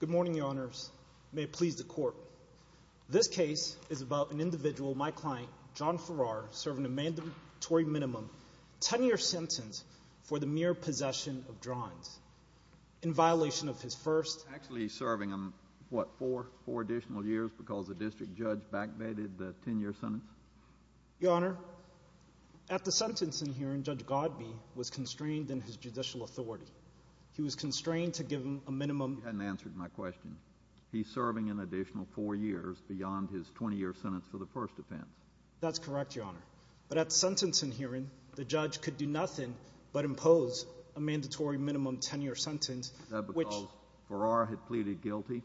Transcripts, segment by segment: Good morning, Your Honors. May it please the Court, this case is about an individual, my client, John Farrar, serving a mandatory minimum 10-year sentence for the mere possession of drawings in violation of his first— Actually, he's serving, what, four additional years because the district judge back-bated the 10-year sentence? Your Honor, at the sentencing hearing, Judge Godbee was constrained in his judicial authority. He was constrained to give him a minimum— He hadn't answered my question. He's serving an additional four years beyond his 20-year sentence for the first offense. That's correct, Your Honor, but at sentencing hearing, the judge could do nothing but impose a mandatory minimum 10-year sentence, which— Is that because Farrar had pleaded guilty?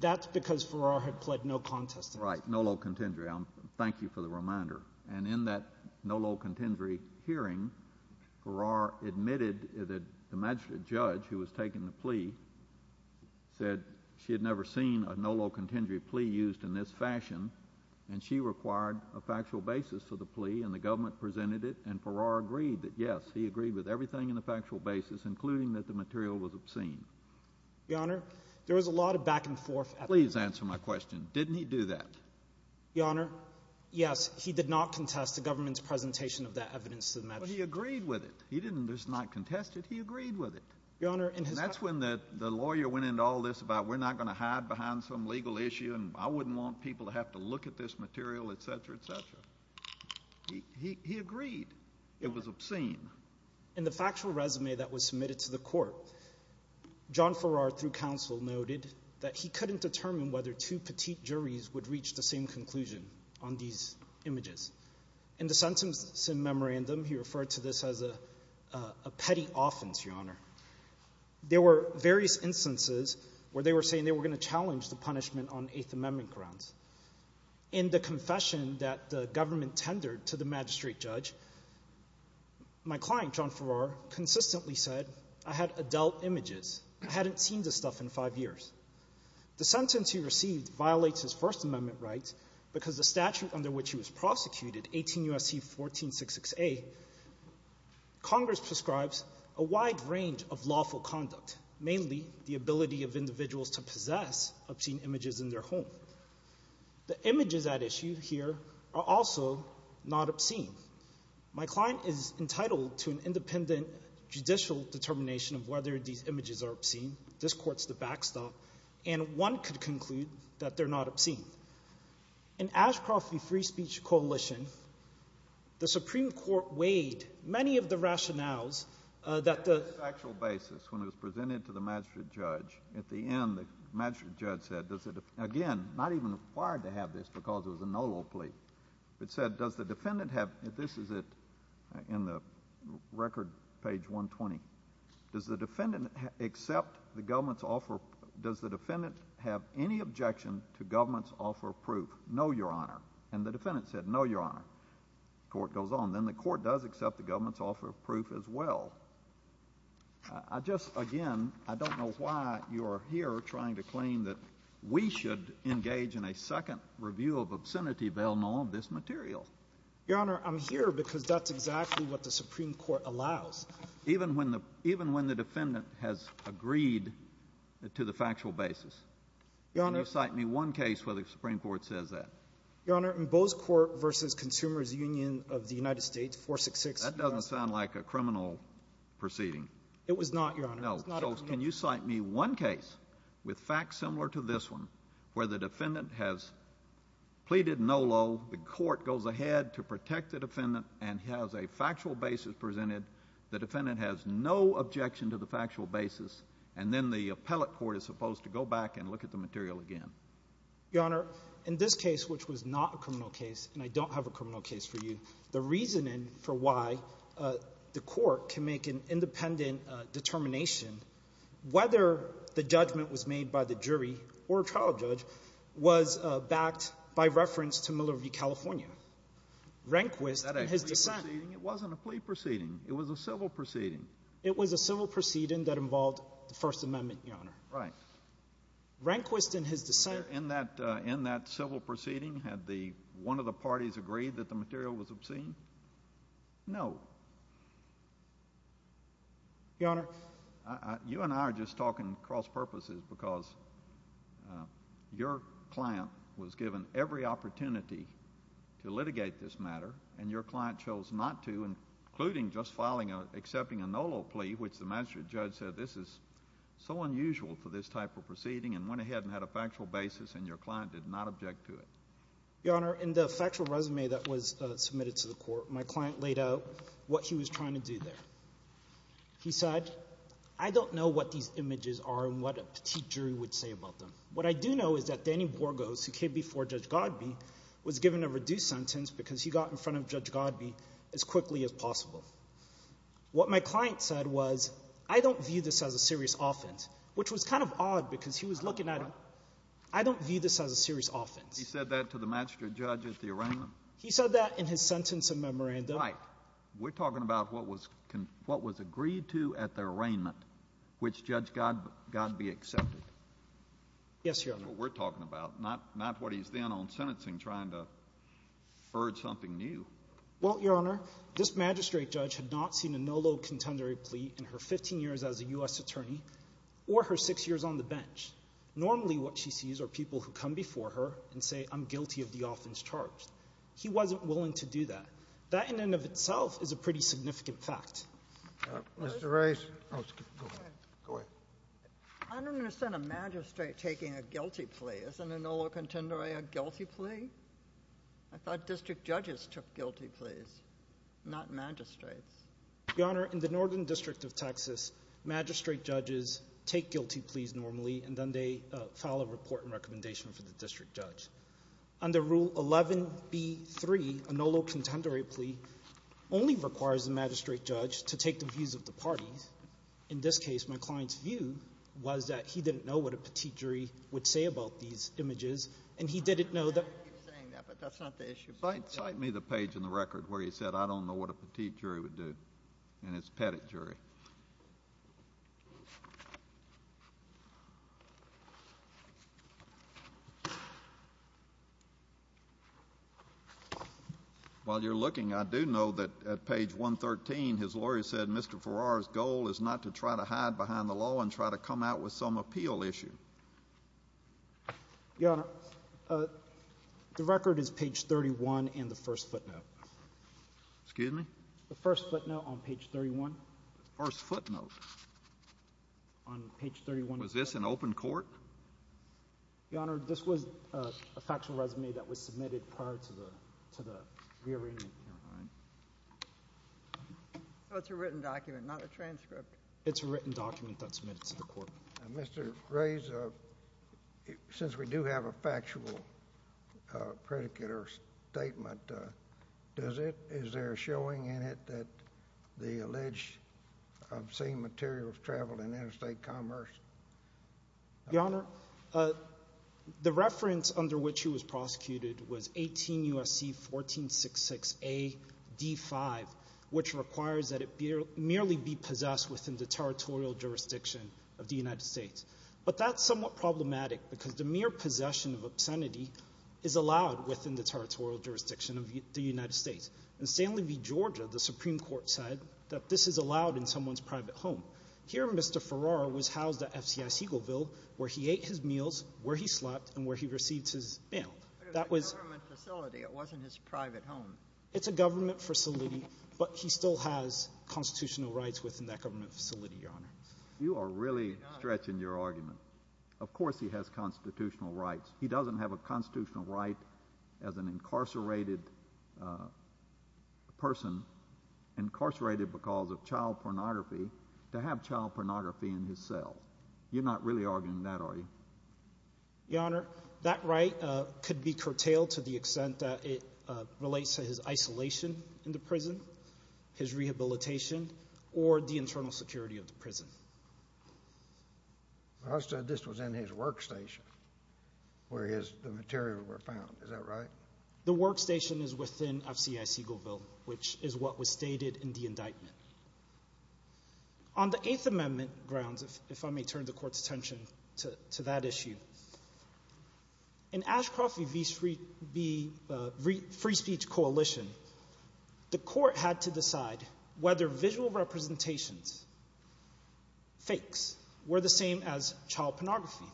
That's because Farrar had pled no contest to that. Right, no low contendory. Thank you for the reminder. And in that no low contendory hearing, Farrar admitted that the magistrate judge who was taking the plea said she had never seen a no low contendory plea used in this fashion, and she required a factual basis for the plea, and the government presented it, and Farrar agreed that, yes, he agreed with everything in the factual basis, including that the material was obscene. Your Honor, there was a lot of back and forth— Please answer my question. Didn't he do that? Your Honor, yes, he did not contest the government's plea. He agreed with it. He did not contest it. He agreed with it. That's when the lawyer went into all this about, we're not going to hide behind some legal issue, and I wouldn't want people to have to look at this material, etc., etc. He agreed it was obscene. In the factual resume that was submitted to the court, John Farrar, through counsel, noted that he couldn't determine whether two petite juries would reach the same conclusion on these images. In the sentencing memorandum, he referred to this as a petty offense, Your Honor. There were various instances where they were saying they were going to challenge the punishment on Eighth Amendment grounds. In the confession that the government tendered to the magistrate judge, my client, John Farrar, consistently said, I had adult images. I hadn't seen this stuff in five years. The sentence he received violates his prosecution, 18 U.S.C. 1466A. Congress prescribes a wide range of lawful conduct, mainly the ability of individuals to possess obscene images in their home. The images at issue here are also not obscene. My client is entitled to an independent judicial determination of whether these images are obscene. This court's the backstop, and one could conclude that they're not obscene. In Ashcroft v. Free Speech Coalition, the Supreme Court weighed many of the rationales that the— On a factual basis, when it was presented to the magistrate judge, at the end, the magistrate judge said, again, not even required to have this because it was a nolo plea, but said, does the defendant have—this is it in the record, page 120—does the defendant accept the government's offer—does the defendant have any objection to government's offer of proof? No, Your Honor. And the defendant said, no, Your Honor. The court goes on. Then the court does accept the government's offer of proof as well. I just, again, I don't know why you're here trying to claim that we should engage in a second review of obscenity, Valenant, of this material. Your Honor, I'm here because that's exactly what the Supreme Court allows. Even when the defendant has agreed to the factual basis. Your Honor— Can you cite me one case where the Supreme Court says that? Your Honor, in Bose Court v. Consumers Union of the United States, 466— That doesn't sound like a criminal proceeding. It was not, Your Honor. No. So can you cite me one case with facts similar to this one where the defendant has pleaded nolo, the court goes ahead to protect the defendant and has a factual basis presented, the defendant has no objection to the factual basis, and then the court goes back and looks at the material again? Your Honor, in this case, which was not a criminal case, and I don't have a criminal case for you, the reasoning for why the court can make an independent determination whether the judgment was made by the jury or a trial judge was backed by reference to Miller v. California, Rehnquist and his dissent. It wasn't a plea proceeding. It was a civil proceeding. It was a civil proceeding that involved the First Amendment, Your Honor. Right. Rehnquist and his dissent— In that civil proceeding, had one of the parties agreed that the material was obscene? No. Your Honor— You and I are just talking cross-purposes because your client was given every opportunity to litigate this matter, and your client chose not to, including just accepting a nolo plea, which the magistrate judge said, this is so unusual for this type of proceeding, and went ahead and had a factual basis, and your client did not object to it. Your Honor, in the factual resume that was submitted to the court, my client laid out what he was trying to do there. He said, I don't know what these images are and what a petite jury would say about them. What I do know is that Danny Borgos, who came before Judge Godby, was given a reduced sentence because he got in front of Judge Godby as quickly as possible. What my client said was, I don't view this as a serious offense, which was kind of odd because he was looking at— I don't view this as a serious offense. He said that to the magistrate judge at the arraignment? He said that in his sentence and memorandum. Right. We're talking about what was agreed to at the arraignment, which Judge Godby accepted. Yes, Your Honor. That's what we're talking about, not what he's then on sentencing trying to urge something new. Well, Your Honor, this magistrate judge had not seen a nolo contendere plea in her 15 years as a U.S. attorney or her six years on the bench. Normally what she sees are people who come before her and say, I'm guilty of the offense charged. He wasn't willing to do that. That in and of itself is a pretty significant fact. Mr. Rice. Go ahead. I don't understand a magistrate taking a guilty plea. Isn't a nolo contendere a guilty plea? I thought district judges took guilty pleas. Not magistrates. Your Honor, in the Northern District of Texas, magistrate judges take guilty pleas normally, and then they file a report and recommendation for the district judge. Under Rule 11b-3, a nolo contendere plea only requires the magistrate judge to take the views of the parties. In this case, my client's view was that he didn't know what a petit jury would say about these images, and he didn't know that— I know you're saying that, but that's not the record where he said, I don't know what a petit jury would do, and it's a pettit jury. While you're looking, I do know that at page 113, his lawyer said Mr. Farrar's goal is not to try to hide behind the law and try to come out with some appeal issue. Your Honor, the record is page 31 and the first footnote. Excuse me? The first footnote on page 31. First footnote? On page 31. Was this an open court? Your Honor, this was a factual resume that was submitted prior to the rearrangement. So it's a written document, not a transcript? It's a written document that was submitted to the court. Mr. Reyes, since we do have a factual predicate or statement, does it—is there a showing in it that the alleged obscene materials traveled in interstate commerce? Your Honor, the reference under which he was prosecuted was 18 U.S.C. 1466 A.D. 5, which requires that it merely be possessed within the territorial jurisdiction of the United States. But that's somewhat problematic because the mere possession of obscenity is allowed within the territorial jurisdiction of the United States. In Stanley v. Georgia, the Supreme Court said that this is allowed in someone's private home. Here, Mr. Farrar was housed at F.C.I. Siegelville, where he ate his meals, where he slept, and where he received his mail. It was a government facility. It wasn't his private home. It's a government facility, but he still has constitutional rights within that government facility, Your Honor. You are really stretching your argument. Of course he has constitutional rights. He doesn't have a constitutional right as an incarcerated person—incarcerated because of child pornography—to have child pornography in his cell. You're not really arguing that, are you? Your Honor, that right could be curtailed to the extent that it relates to his isolation in the prison, his rehabilitation, or the internal security of the prison. Well, I said this was in his workstation where the materials were found. Is that right? The workstation is within F.C.I. Siegelville, which is what was stated in the indictment. On the Eighth Amendment grounds, if I may turn the Court's attention to that issue, in Ashcroft v. Free Speech Coalition, the Court had to decide whether visual representations, fakes, were the same as child pornography.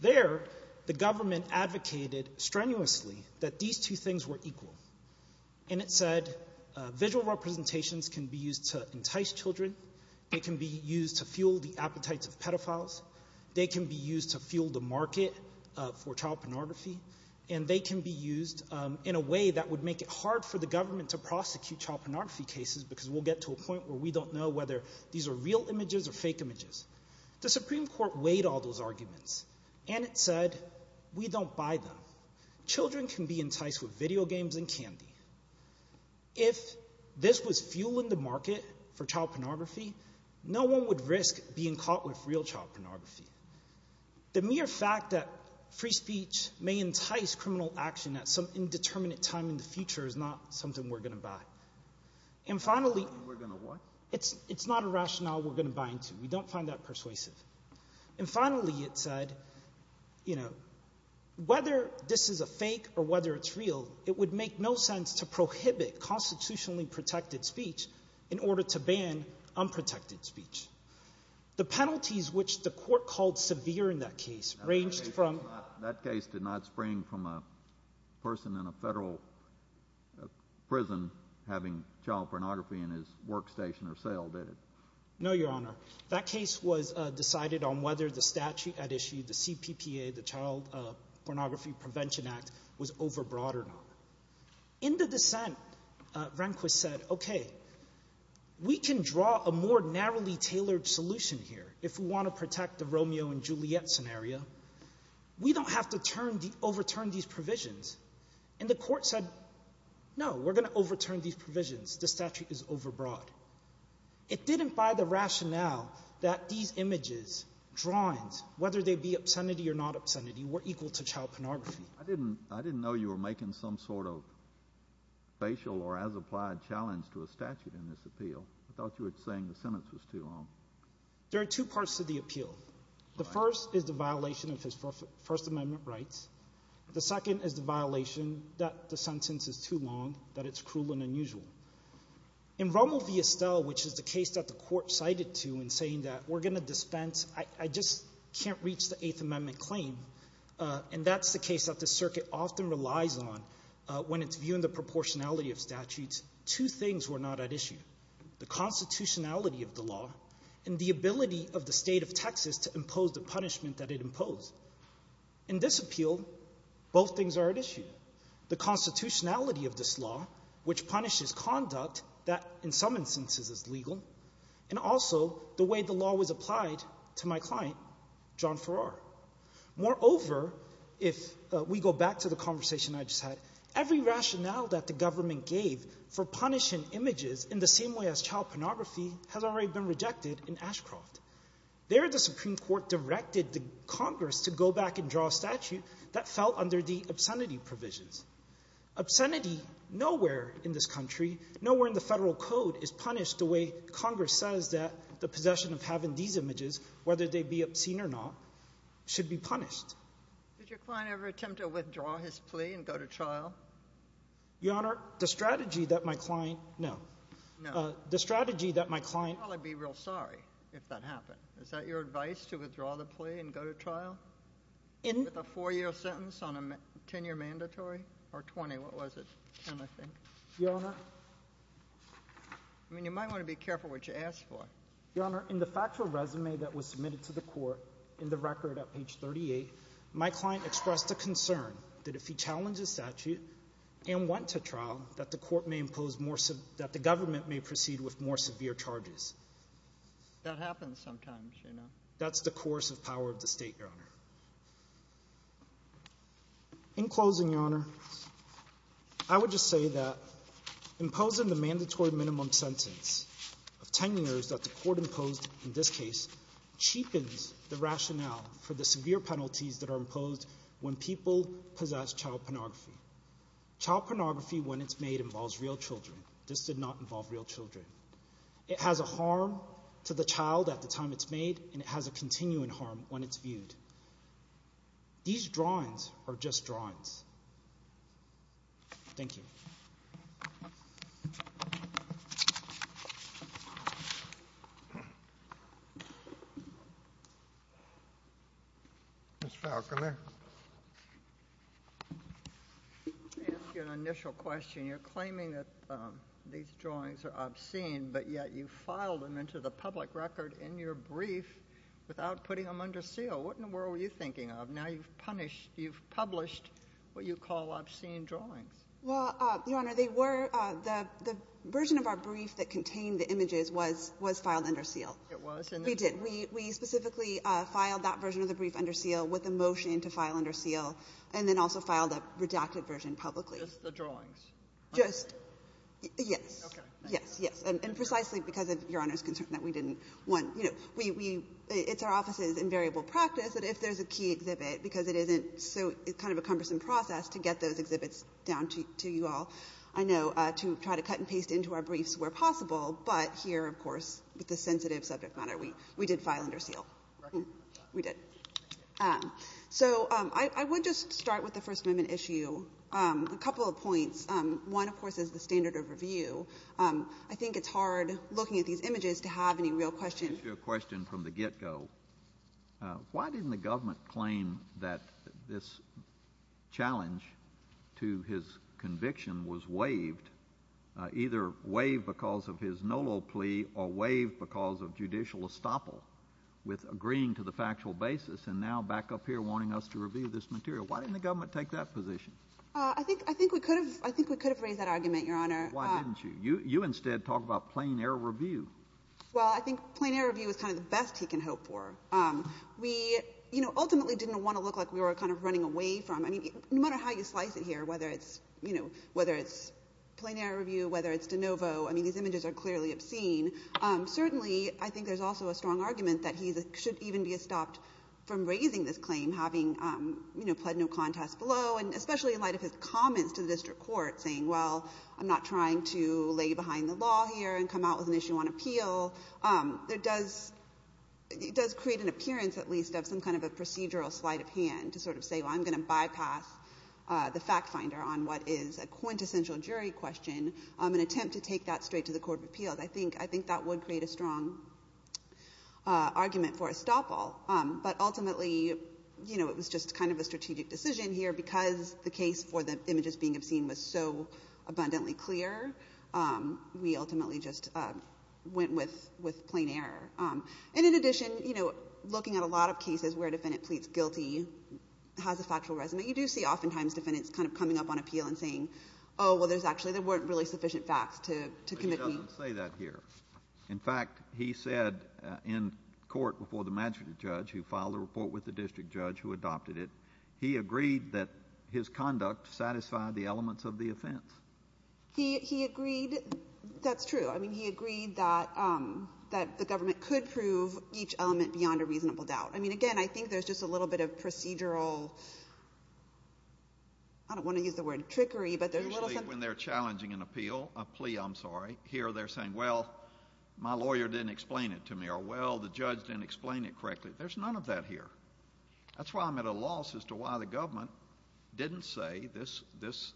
There, the government advocated strenuously that these two things were equal, and it said visual representations can be used to entice children, they can be used to fuel the appetites of pedophiles, they can be used to fuel the market for child pornography, and they can be used in a way that would make it hard for the government to prosecute child pornography cases because we'll get to a point where we don't know whether these are real images or fake images. The Supreme Court weighed all those arguments, and it said we don't buy them. Children can be enticed with video games and candy. If this was fueling the market for child pornography, no one would risk being caught with real child pornography. The mere fact that free speech may entice criminal action at some indeterminate time in the future is not something we're going to buy. And finally, it's not a rationale we're going to buy into. We don't find that persuasive. And finally, it said, you know, whether this is a fake or whether it's real, it would make no sense to prohibit constitutionally protected speech in order to ban unprotected speech. The penalties which the court called severe in that case ranged from... That case did not spring from a person in a federal prison having child pornography in his workstation or cell, did it? No, Your Honor. That case was decided on whether the statute at issue, the CPPA, the Child Pornography Prevention Act, was overbroad or not. In the dissent, Rehnquist said, okay, we can draw a more narrowly tailored solution here if we want to protect the Romeo and Juliet scenario. We don't have to overturn these provisions. And the court said, no, we're going to overturn these provisions. The statute is overbroad. It didn't buy the rationale that these images, drawings, whether they be obscenity or not obscenity, were equal to child pornography. I didn't know you were making some sort of facial or as applied challenge to a statute in this appeal. I thought you were saying the sentence was too long. There are two parts to the appeal. The first is the violation of his First Amendment rights. The second is the violation that the sentence is too long, that it's cruel and unusual. In Rommel v. Estelle, which is the case that the court cited to in saying that we're going to dispense, I just can't reach the Eighth Amendment claim. And that's the case that the circuit often relies on when it's viewing the proportionality of statutes. Two things were not at issue. The constitutionality of the law and the ability of the state of Texas to impose the punishment that it imposed. In this appeal, both things are at issue. The constitutionality of this law, which punishes conduct that in some instances is legal, and also the way the law was applied to my client, John Farrar. Moreover, if we go back to the conversation I just had, every rationale that the government gave for punishing images in the same way as child pornography has already been rejected in Ashcroft. There, the Supreme Court directed the Congress to go back and draw a statute that fell under the obscenity provisions. Obscenity nowhere in this country, nowhere in the federal code, is punished the way Congress says that the possession of having these images, whether they be obscene or not, should be punished. Did your client ever attempt to withdraw his plea and go to trial? Your Honor, the strategy that my client—no. No. The strategy that my client— Your father would be real sorry if that happened. Is that your advice, to withdraw the plea and go to trial? In— With a 4-year sentence on a 10-year mandatory? Or 20? What was it? 10, I think. Your Honor— I mean, you might want to be careful what you ask for. Your Honor, in the factual resume that was submitted to the court in the record at page 38, my client expressed a concern that if he challenged the statute and went to trial, that the court may impose more—that the government may proceed with more severe charges. That happens sometimes, you know. That's the course of power of the state, Your Honor. In closing, Your Honor, I would just say that imposing the mandatory minimum sentence of 10 years that the court imposed in this case cheapens the rationale for the severe penalties that are imposed when people possess child pornography. Child pornography, when it's made, involves real children. This did not involve real children. It has a harm to the child at the time it's made, and it has a continuing harm when it's viewed. These drawings are just drawings. Thank you. Ms. Fowler, come here. Let me ask you an initial question. You're claiming that these drawings are obscene, but yet you filed them into the public record in your brief without putting them under seal. What in the world were you thinking of? Now you've punished — you've published what you call obscene drawings. Well, Your Honor, they were — the version of our brief that contained the images was filed under seal. It was? We did. We specifically filed that version of the brief under seal with a motion to file under seal, and then also filed a redacted version publicly. Just the drawings? Just — yes. Okay. Yes, yes. And precisely because of Your Honor's concern that we didn't want — you know, we — it's our office's invariable practice that if there's a key exhibit, because it isn't so — it's kind of a cumbersome process to get those exhibits down to you all, I know, to try to cut and paste into our briefs where possible. But here, of course, with the sensitive subject matter, we did file under seal. Right. We did. So I would just start with the First Amendment issue. A couple of points. One, of course, is the standard of review. I think it's hard, looking at these images, to have any real questions. Let me ask you a question from the get-go. Why didn't the government claim that this challenge to his conviction was waived, either waived because of his NOLO plea or waived because of judicial estoppel with agreeing to the factual basis and now back up here wanting us to review this material? Why didn't the government take that position? I think — I think we could have — I think we could have raised that argument, Your Honor. Why didn't you? You instead talk about plain-air review. Well, I think plain-air review is kind of the best he can hope for. We, you know, ultimately didn't want to look like we were kind of running away from — I mean, no matter how you slice it here, whether it's, you know, whether it's plain-air review, whether it's de novo, I mean, these images are clearly obscene. Certainly, I think there's also a strong argument that he should even be estopped from raising this claim, having, you know, pled no contest below, and especially in light of his comments to the district court saying, well, I'm not trying to lay behind the law here and come out with an issue on appeal. It does — it does create an appearance, at least, of some kind of a procedural sleight-of-hand to sort of say, well, I'm going to bypass the fact finder on what is a quintessential jury question and attempt to take that straight to the court of appeals. I think — I think that would create a strong argument for estoppel. But ultimately, you know, it was just kind of a strategic decision here because the case for the images being obscene was so abundantly clear, we ultimately just went with — with plain air. And in addition, you know, looking at a lot of cases where a defendant pleads guilty, has a factual resume, you do see oftentimes defendants kind of coming up on appeal and saying, oh, well, there's actually — there weren't really sufficient facts to commit me. But he doesn't say that here. In fact, he said in court before the magistrate judge who filed a report with the district judge who adopted it, he agreed that his conduct satisfied the elements of the offense. He — he agreed — that's true. I mean, he agreed that — that the government could prove each element beyond a reasonable doubt. I mean, again, I think there's just a little bit of procedural — I don't want to use the word trickery, but there's a little something — Usually when they're challenging an appeal, a plea, I'm sorry, here they're saying, well, my lawyer didn't explain it to me, or, well, the judge didn't explain it correctly. There's none of that here. That's why I'm at a loss as to why the government didn't say this — this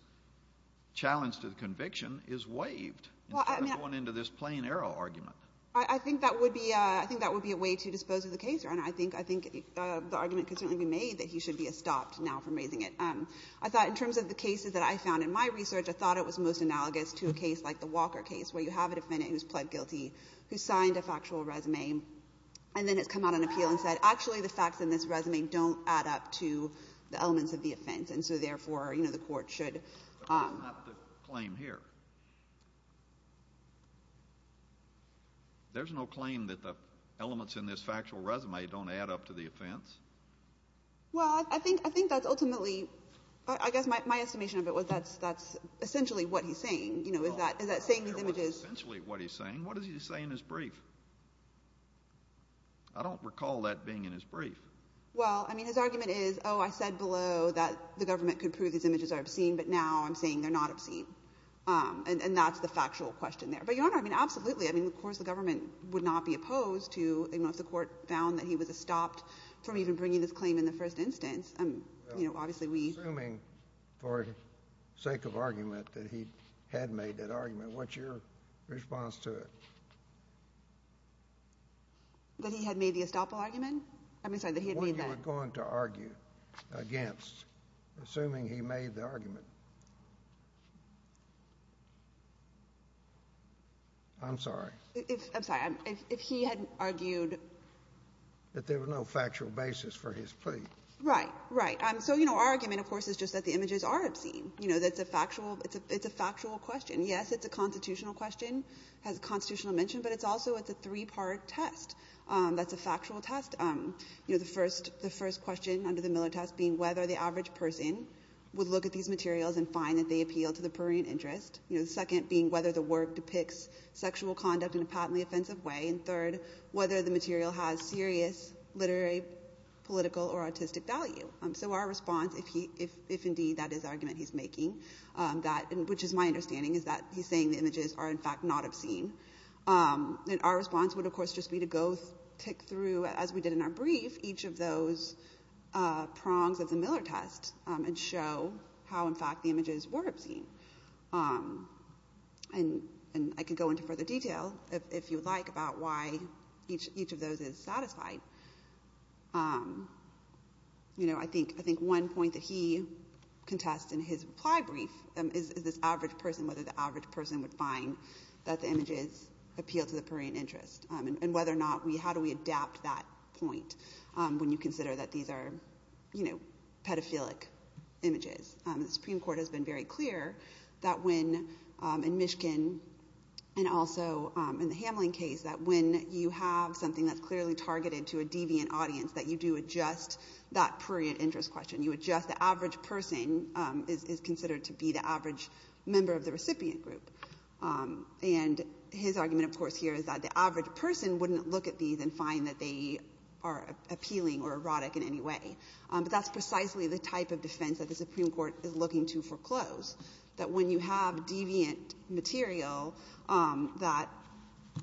challenge to the conviction is waived instead of going into this plain-error argument. Well, I mean, I think that would be — I think that would be a way to dispose of the case, Your Honor. I think — I think the argument could certainly be made that he should be stopped now from raising it. I thought in terms of the cases that I found in my research, I thought it was most analogous to a case like the Walker case where you have a defendant who's pled guilty, who signed a factual resume, and then has come out on appeal and said, actually, the facts in this don't add up to the elements of the offense. And so, therefore, you know, the court should — But that's not the claim here. There's no claim that the elements in this factual resume don't add up to the offense. Well, I think — I think that's ultimately — I guess my estimation of it was that's essentially what he's saying. You know, is that — is that saying these images — Well, that's not essentially what he's saying. I don't recall that being in his brief. Well, I mean, his argument is, oh, I said below that the government could prove these images are obscene, but now I'm saying they're not obscene. And that's the factual question there. But, Your Honor, I mean, absolutely. I mean, of course the government would not be opposed to — you know, if the court found that he was stopped from even bringing this claim in the first instance, you know, obviously we — Assuming, for sake of argument, that he had made that argument, what's your response to it? That he had made the estoppel argument? I mean, sorry, that he had made the — What you were going to argue against, assuming he made the argument? I'm sorry. I'm sorry. If he had argued — That there was no factual basis for his plea. Right. Right. So, you know, our argument, of course, is just that the images are obscene. You know, that's a factual — it's a factual question. Yes, it's a constitutional question. It has a constitutional dimension, but it's also — it's a three-part test. That's a factual test. You know, the first question under the Miller test being whether the average person would look at these materials and find that they appeal to the prurient interest. You know, the second being whether the work depicts sexual conduct in a patently offensive way. And third, whether the material has serious literary, political, or artistic value. So our response, if indeed that is the argument he's making, which is my understanding, is that he's saying the images are, in fact, not obscene. And our response would, of course, just be to go tick through, as we did in our brief, each of those prongs of the Miller test and show how, in fact, the images were obscene. And I could go into further detail, if you would like, about why each of those is satisfied. You know, I think one point that he contests in his reply brief is this average person, would find that the images appeal to the prurient interest. And whether or not we, how do we adapt that point when you consider that these are, you know, pedophilic images. The Supreme Court has been very clear that when, in Michigan, and also in the Hamline case, that when you have something that's clearly targeted to a deviant audience, that you do adjust that prurient interest question. You adjust the average person is considered to be the average member of the recipient group. And his argument, of course, here is that the average person wouldn't look at these and find that they are appealing or erotic in any way. But that's precisely the type of defense that the Supreme Court is looking to foreclose, that when you have deviant material, that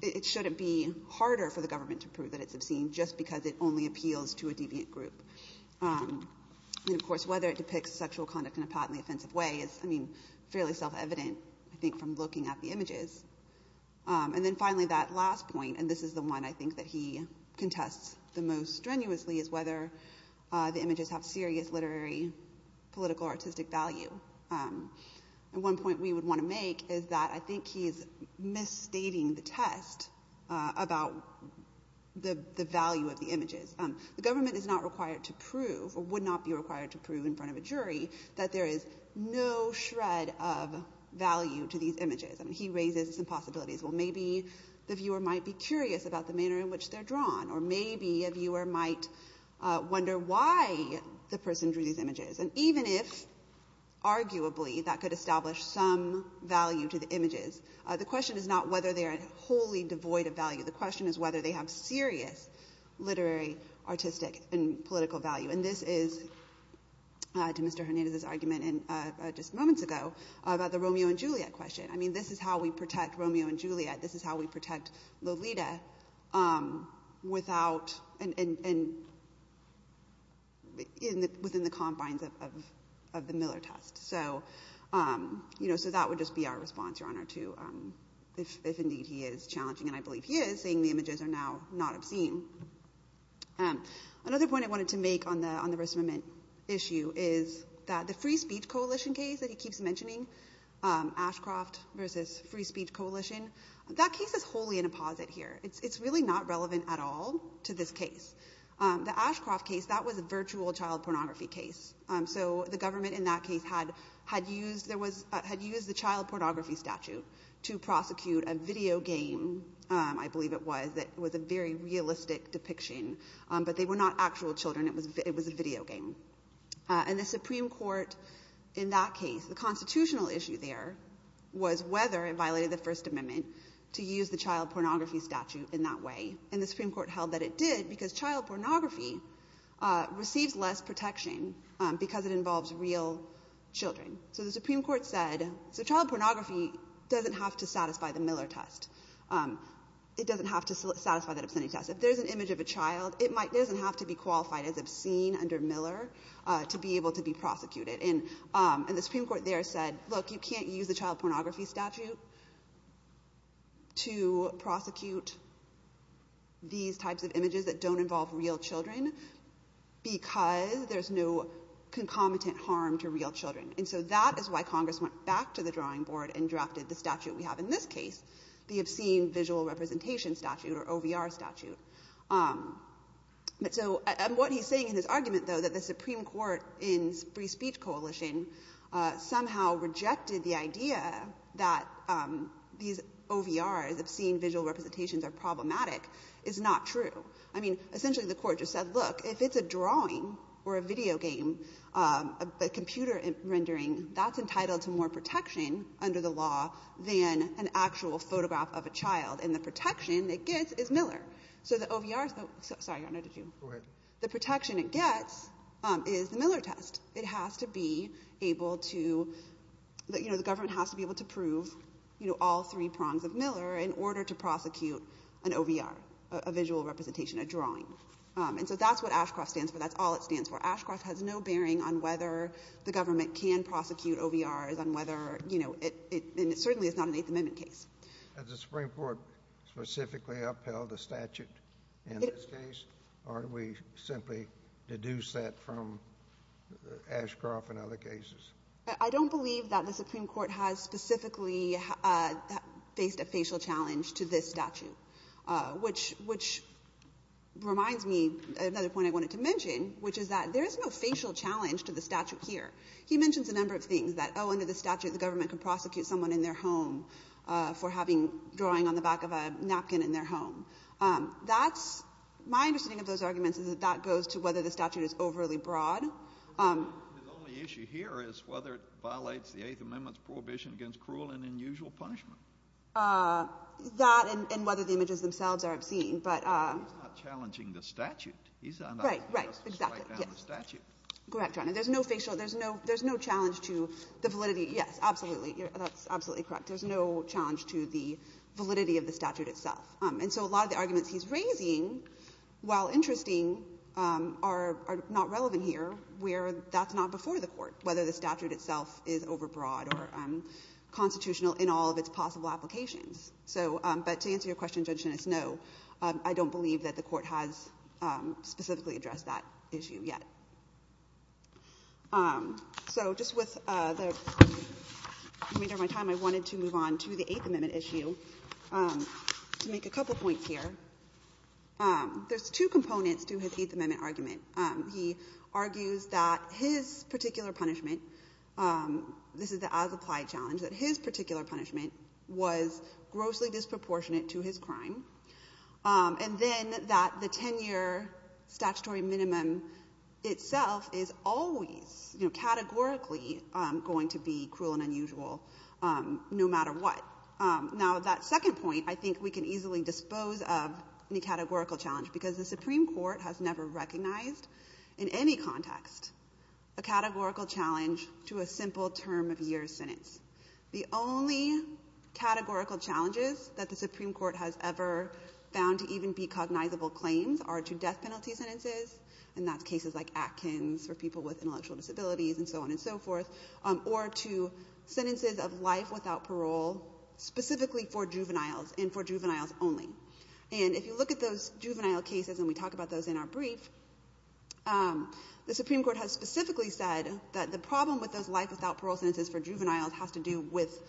it shouldn't be harder for the government to prove that it's obscene just because it only appeals to a deviant group. And, of course, whether it depicts sexual conduct in a patently offensive way is, I think, from looking at the images. And then finally, that last point, and this is the one I think that he contests the most strenuously, is whether the images have serious literary, political, artistic value. And one point we would want to make is that I think he's misstating the test about the value of the images. The government is not required to prove, or would not be required to prove in front of value to these images. I mean, he raises some possibilities. Well, maybe the viewer might be curious about the manner in which they're drawn, or maybe a viewer might wonder why the person drew these images. And even if, arguably, that could establish some value to the images, the question is not whether they are wholly devoid of value. The question is whether they have serious literary, artistic, and political value. And this is, to Mr. Hernandez's argument just moments ago, about the Romeo and Juliet question. I mean, this is how we protect Romeo and Juliet. This is how we protect Lolita within the confines of the Miller test. So that would just be our response, Your Honor, to if indeed he is challenging. And I believe he is, saying the images are now not obscene. Another point I wanted to make on the race moment issue is that the Free Speech Coalition case that he keeps mentioning, Ashcroft versus Free Speech Coalition, that case is wholly in a posit here. It's really not relevant at all to this case. The Ashcroft case, that was a virtual child pornography case. So the government in that case had used the child pornography statute to prosecute a video game, I believe it was, that was a very realistic depiction. But they were not actual children. It was a video game. And the Supreme Court, in that case, the constitutional issue there was whether it violated the First Amendment to use the child pornography statute in that way. And the Supreme Court held that it did because child pornography receives less protection because it involves real children. So the Supreme Court said, so child pornography doesn't have to satisfy the Miller test. It doesn't have to satisfy that obscenity test. If there's an image of a child, it doesn't have to be qualified as obscene under Miller to be able to be prosecuted. And the Supreme Court there said, look, you can't use the child pornography statute to prosecute these types of images that don't involve real children because there's no concomitant harm to real children. And so that is why Congress went back to the drawing board and drafted the statute we have in this case. The obscene visual representation statute, or OVR statute. So what he's saying in his argument, though, that the Supreme Court in free speech coalition somehow rejected the idea that these OVRs, obscene visual representations, are problematic is not true. I mean, essentially the court just said, look, if it's a drawing or a video game, a computer rendering, that's entitled to more protection under the law than an actual photograph of a child. And the protection it gets is Miller. So the OVR, sorry, Your Honor, did you? Go ahead. The protection it gets is the Miller test. It has to be able to, you know, the government has to be able to prove, you know, all three prongs of Miller in order to prosecute an OVR, a visual representation, a drawing. And so that's what Ashcroft stands for. That's all it stands for. Ashcroft has no bearing on whether the government can prosecute OVRs and whether, you know, it certainly is not an Eighth Amendment case. The Supreme Court specifically upheld the statute in this case? Or did we simply deduce that from Ashcroft and other cases? I don't believe that the Supreme Court has specifically faced a facial challenge to this statute, which reminds me of another point I wanted to mention, which is that there is no facial challenge to the statute here. He mentions a number of things that, oh, under the statute, the government can prosecute someone in their home for having a drawing on the back of a napkin in their home. That's my understanding of those arguments is that that goes to whether the statute is overly broad. But the only issue here is whether it violates the Eighth Amendment's prohibition against cruel and unusual punishment. That and whether the images themselves are obscene. But he's not challenging the statute. He's just striking down the statute. Right, right, exactly. Yes. Correct, Your Honor. There's no facial. There's no challenge to the validity. Yes, absolutely. That's absolutely correct. There's no challenge to the validity of the statute itself. And so a lot of the arguments he's raising, while interesting, are not relevant here where that's not before the Court, whether the statute itself is overbroad or constitutional in all of its possible applications. So, but to answer your question, Judge Genis, no. I don't believe that the Court has specifically addressed that issue yet. So just with the remainder of my time, I wanted to move on to the Eighth Amendment issue to make a couple points here. There's two components to his Eighth Amendment argument. He argues that his particular punishment, this is the as-applied challenge, that his particular punishment was grossly disproportionate to his crime. And then that the 10-year statutory minimum itself is always, you know, categorically going to be cruel and unusual, no matter what. Now, that second point, I think we can easily dispose of the categorical challenge because the Supreme Court has never recognized in any context a categorical challenge to a simple term-of-year sentence. The only categorical challenges that the Supreme Court has ever found to even be cognizable claims are to death penalty sentences, and that's cases like Atkins for people with intellectual disabilities and so on and so forth, or to sentences of life without parole specifically for juveniles and for juveniles only. And if you look at those juvenile cases, and we talk about those in our brief, the Supreme Court has specifically said that the problem with those life without parole sentences for juveniles has to do with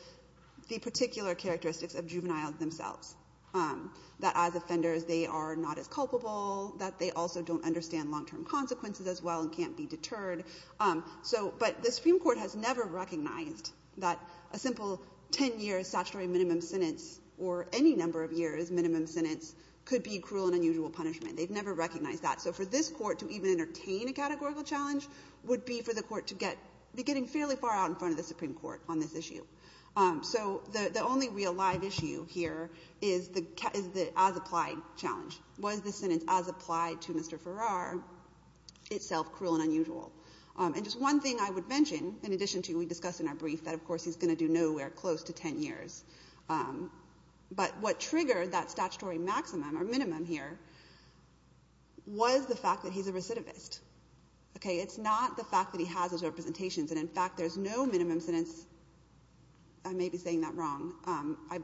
the particular characteristics of juveniles themselves, that as offenders they are not as culpable, that they also don't understand long-term consequences as well and can't be deterred. But the Supreme Court has never recognized that a simple 10-year statutory minimum sentence or any number of years minimum sentence could be cruel and unusual punishment. They've never recognized that. For this court to even entertain a categorical challenge would be for the court to be getting fairly far out in front of the Supreme Court on this issue. So the only real live issue here is the as-applied challenge. Was the sentence as applied to Mr. Farrar itself cruel and unusual? And just one thing I would mention, in addition to we discussed in our brief that of course he's going to do nowhere close to 10 years, but what triggered that is the fact that he's a recidivist. Okay, it's not the fact that he has his representations and in fact there's no minimum sentence, I may be saying that wrong,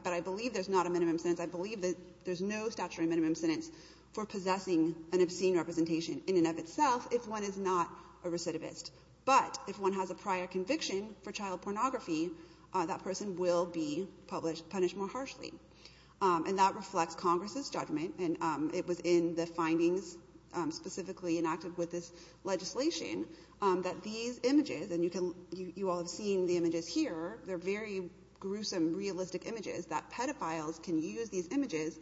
but I believe there's not a minimum sentence. I believe that there's no statutory minimum sentence for possessing an obscene representation in and of itself if one is not a recidivist. But if one has a prior conviction for child pornography, that person will be punished more harshly. And that reflects Congress's judgment and it was in the findings specifically enacted with this legislation that these images, and you all have seen the images here, they're very gruesome, realistic images that pedophiles can use these images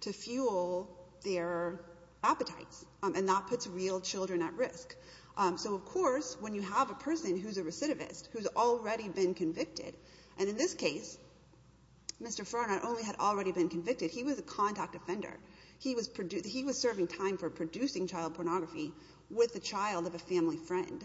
to fuel their appetites. And that puts real children at risk. So of course when you have a person who's a recidivist, who's already been convicted, he was a contact offender. He was serving time for producing child pornography with the child of a family friend.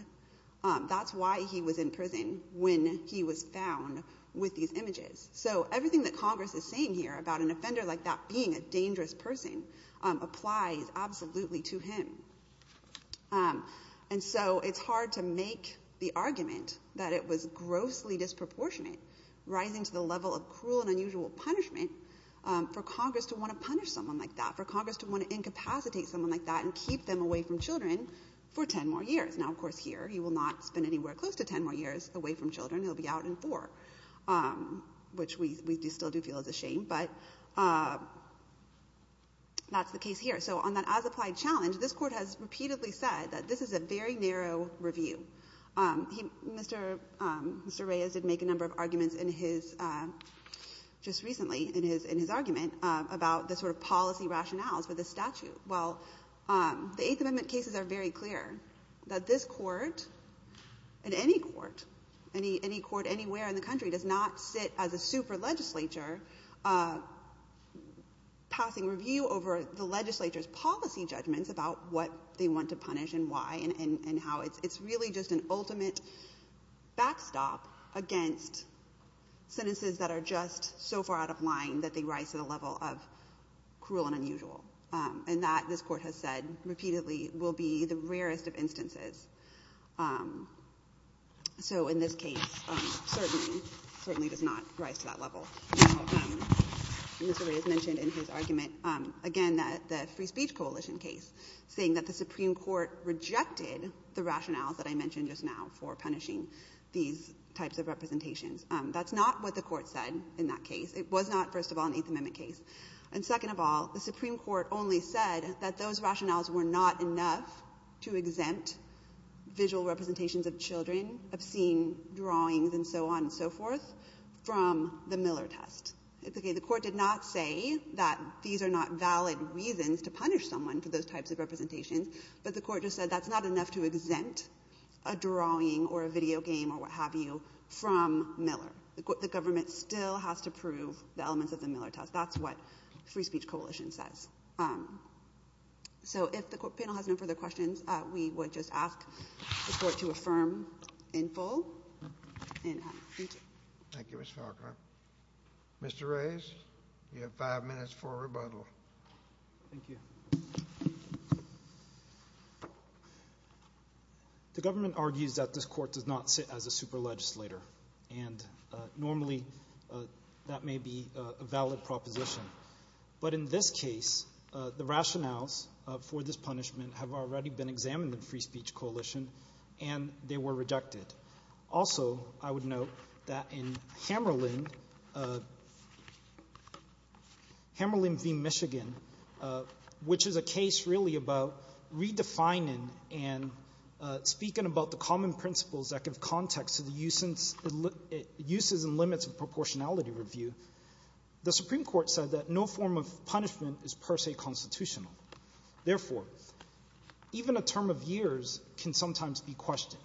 That's why he was in prison when he was found with these images. So everything that Congress is saying here about an offender like that being a dangerous person applies absolutely to him. And so it's hard to make the argument that it was grossly disproportionate, rising to the level of cruel and unusual punishment, for Congress to want to punish someone like that, for Congress to want to incapacitate someone like that and keep them away from children for 10 more years. Now of course here he will not spend anywhere close to 10 more years away from children. He'll be out in four, which we still do feel is a shame. But that's the case here. So on that as-applied challenge, this Court has repeatedly said that this is a very narrow review. Mr. Reyes did make a number of arguments in his, just recently, in his argument about the sort of policy rationales for this statute. Well, the Eighth Amendment cases are very clear that this Court, and any court, any court anywhere in the country, does not sit as a super legislature passing review over the legislature's policy judgments about what they want to punish and why, and how it's really just an ultimate backstop against sentences that are just so far out of line that they rise to the level of cruel and unusual. And that, this Court has said repeatedly, will be the rarest of instances. So in this case, certainly, certainly does not rise to that level. Mr. Reyes mentioned in his argument, again, the Free Speech Coalition case, saying that the Supreme Court rejected the rationales that I mentioned just now for punishing these types of representations. That's not what the Court said in that case. It was not, first of all, an Eighth Amendment case. And second of all, the Supreme Court only said that those rationales were not enough to exempt visual representations of children, obscene drawings and so on and so forth, from the Miller test. The Court did not say that these are not valid reasons to punish someone for those types of representations, but the Court just said that's not enough to exempt a drawing or a video game or what have you from Miller. The Government still has to prove the elements of the Miller test. That's what the Free Speech Coalition says. So if the panel has no further questions, we would just ask the Court to affirm in full. Thank you, Ms. Falkner. Mr. Reyes, you have five minutes for rebuttal. Thank you. The Government argues that this Court does not sit as a super legislator, and normally that may be a valid proposition. But in this case, the rationales for this punishment have already been examined in Free Speech Coalition, and they were rejected. Also, I would note that in Hammerlin v. Michigan, which is a case really about redefining and speaking about the common principles that give context to the uses and limits of proportionality review, the Supreme Court said that no form of punishment is per se constitutional. Therefore, even a term of years can sometimes be questioned.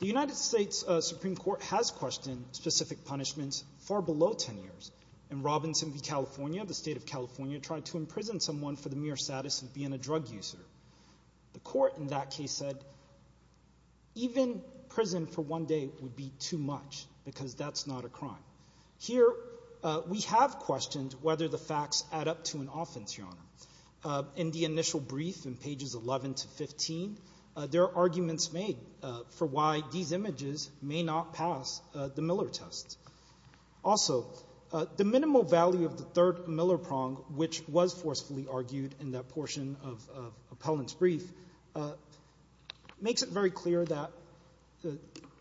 The United States Supreme Court has questioned specific punishments far below 10 years. In Robinson v. California, the State of California tried to imprison someone for the mere status of being a drug user. The Court in that case said, even prison for one day would be too much because that's not a crime. Here, we have questioned whether the facts add up to an offense, Your Honor. In the initial brief in pages 11 to 15, there are arguments made for why these images may not pass the Miller test. Also, the minimal value of the third Miller prong, which was forcefully argued in that portion of Appellant's brief, makes it very clear that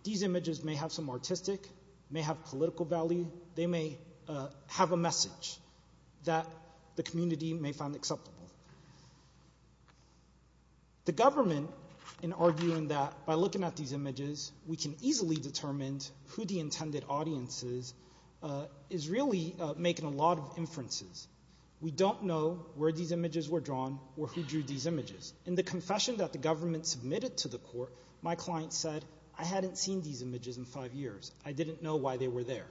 these images may have some artistic, may have political value. They may have a message that the community may find acceptable. The government, in arguing that by looking at these images, we can easily determine who the intended audience is, is really making a lot of inferences. We don't know where these images were drawn or who drew these images. In the confession that the government submitted to the Court, my client said, I hadn't seen these images in five years. I didn't know why they were there.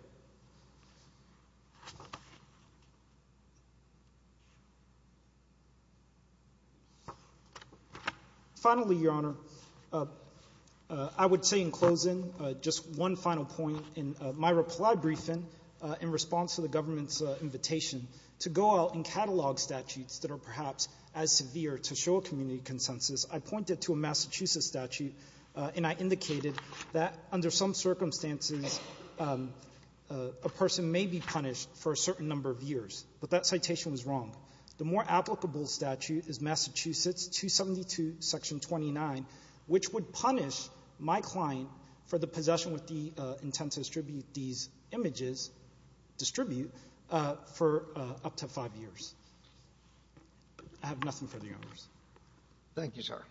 Finally, Your Honor, I would say in closing, just one final point. In my reply briefing, in response to the government's invitation to go out and catalog statutes that are perhaps as severe to show a community consensus, I pointed to a Massachusetts statute and I indicated that under some circumstances a person may be punished for a certain number of years, but that citation was wrong. The more applicable statute is Massachusetts 272, Section 29, which would punish my client for the possession with the intent to distribute these images, distribute, for up to five I have nothing further, Your Honors. Thank you, sir.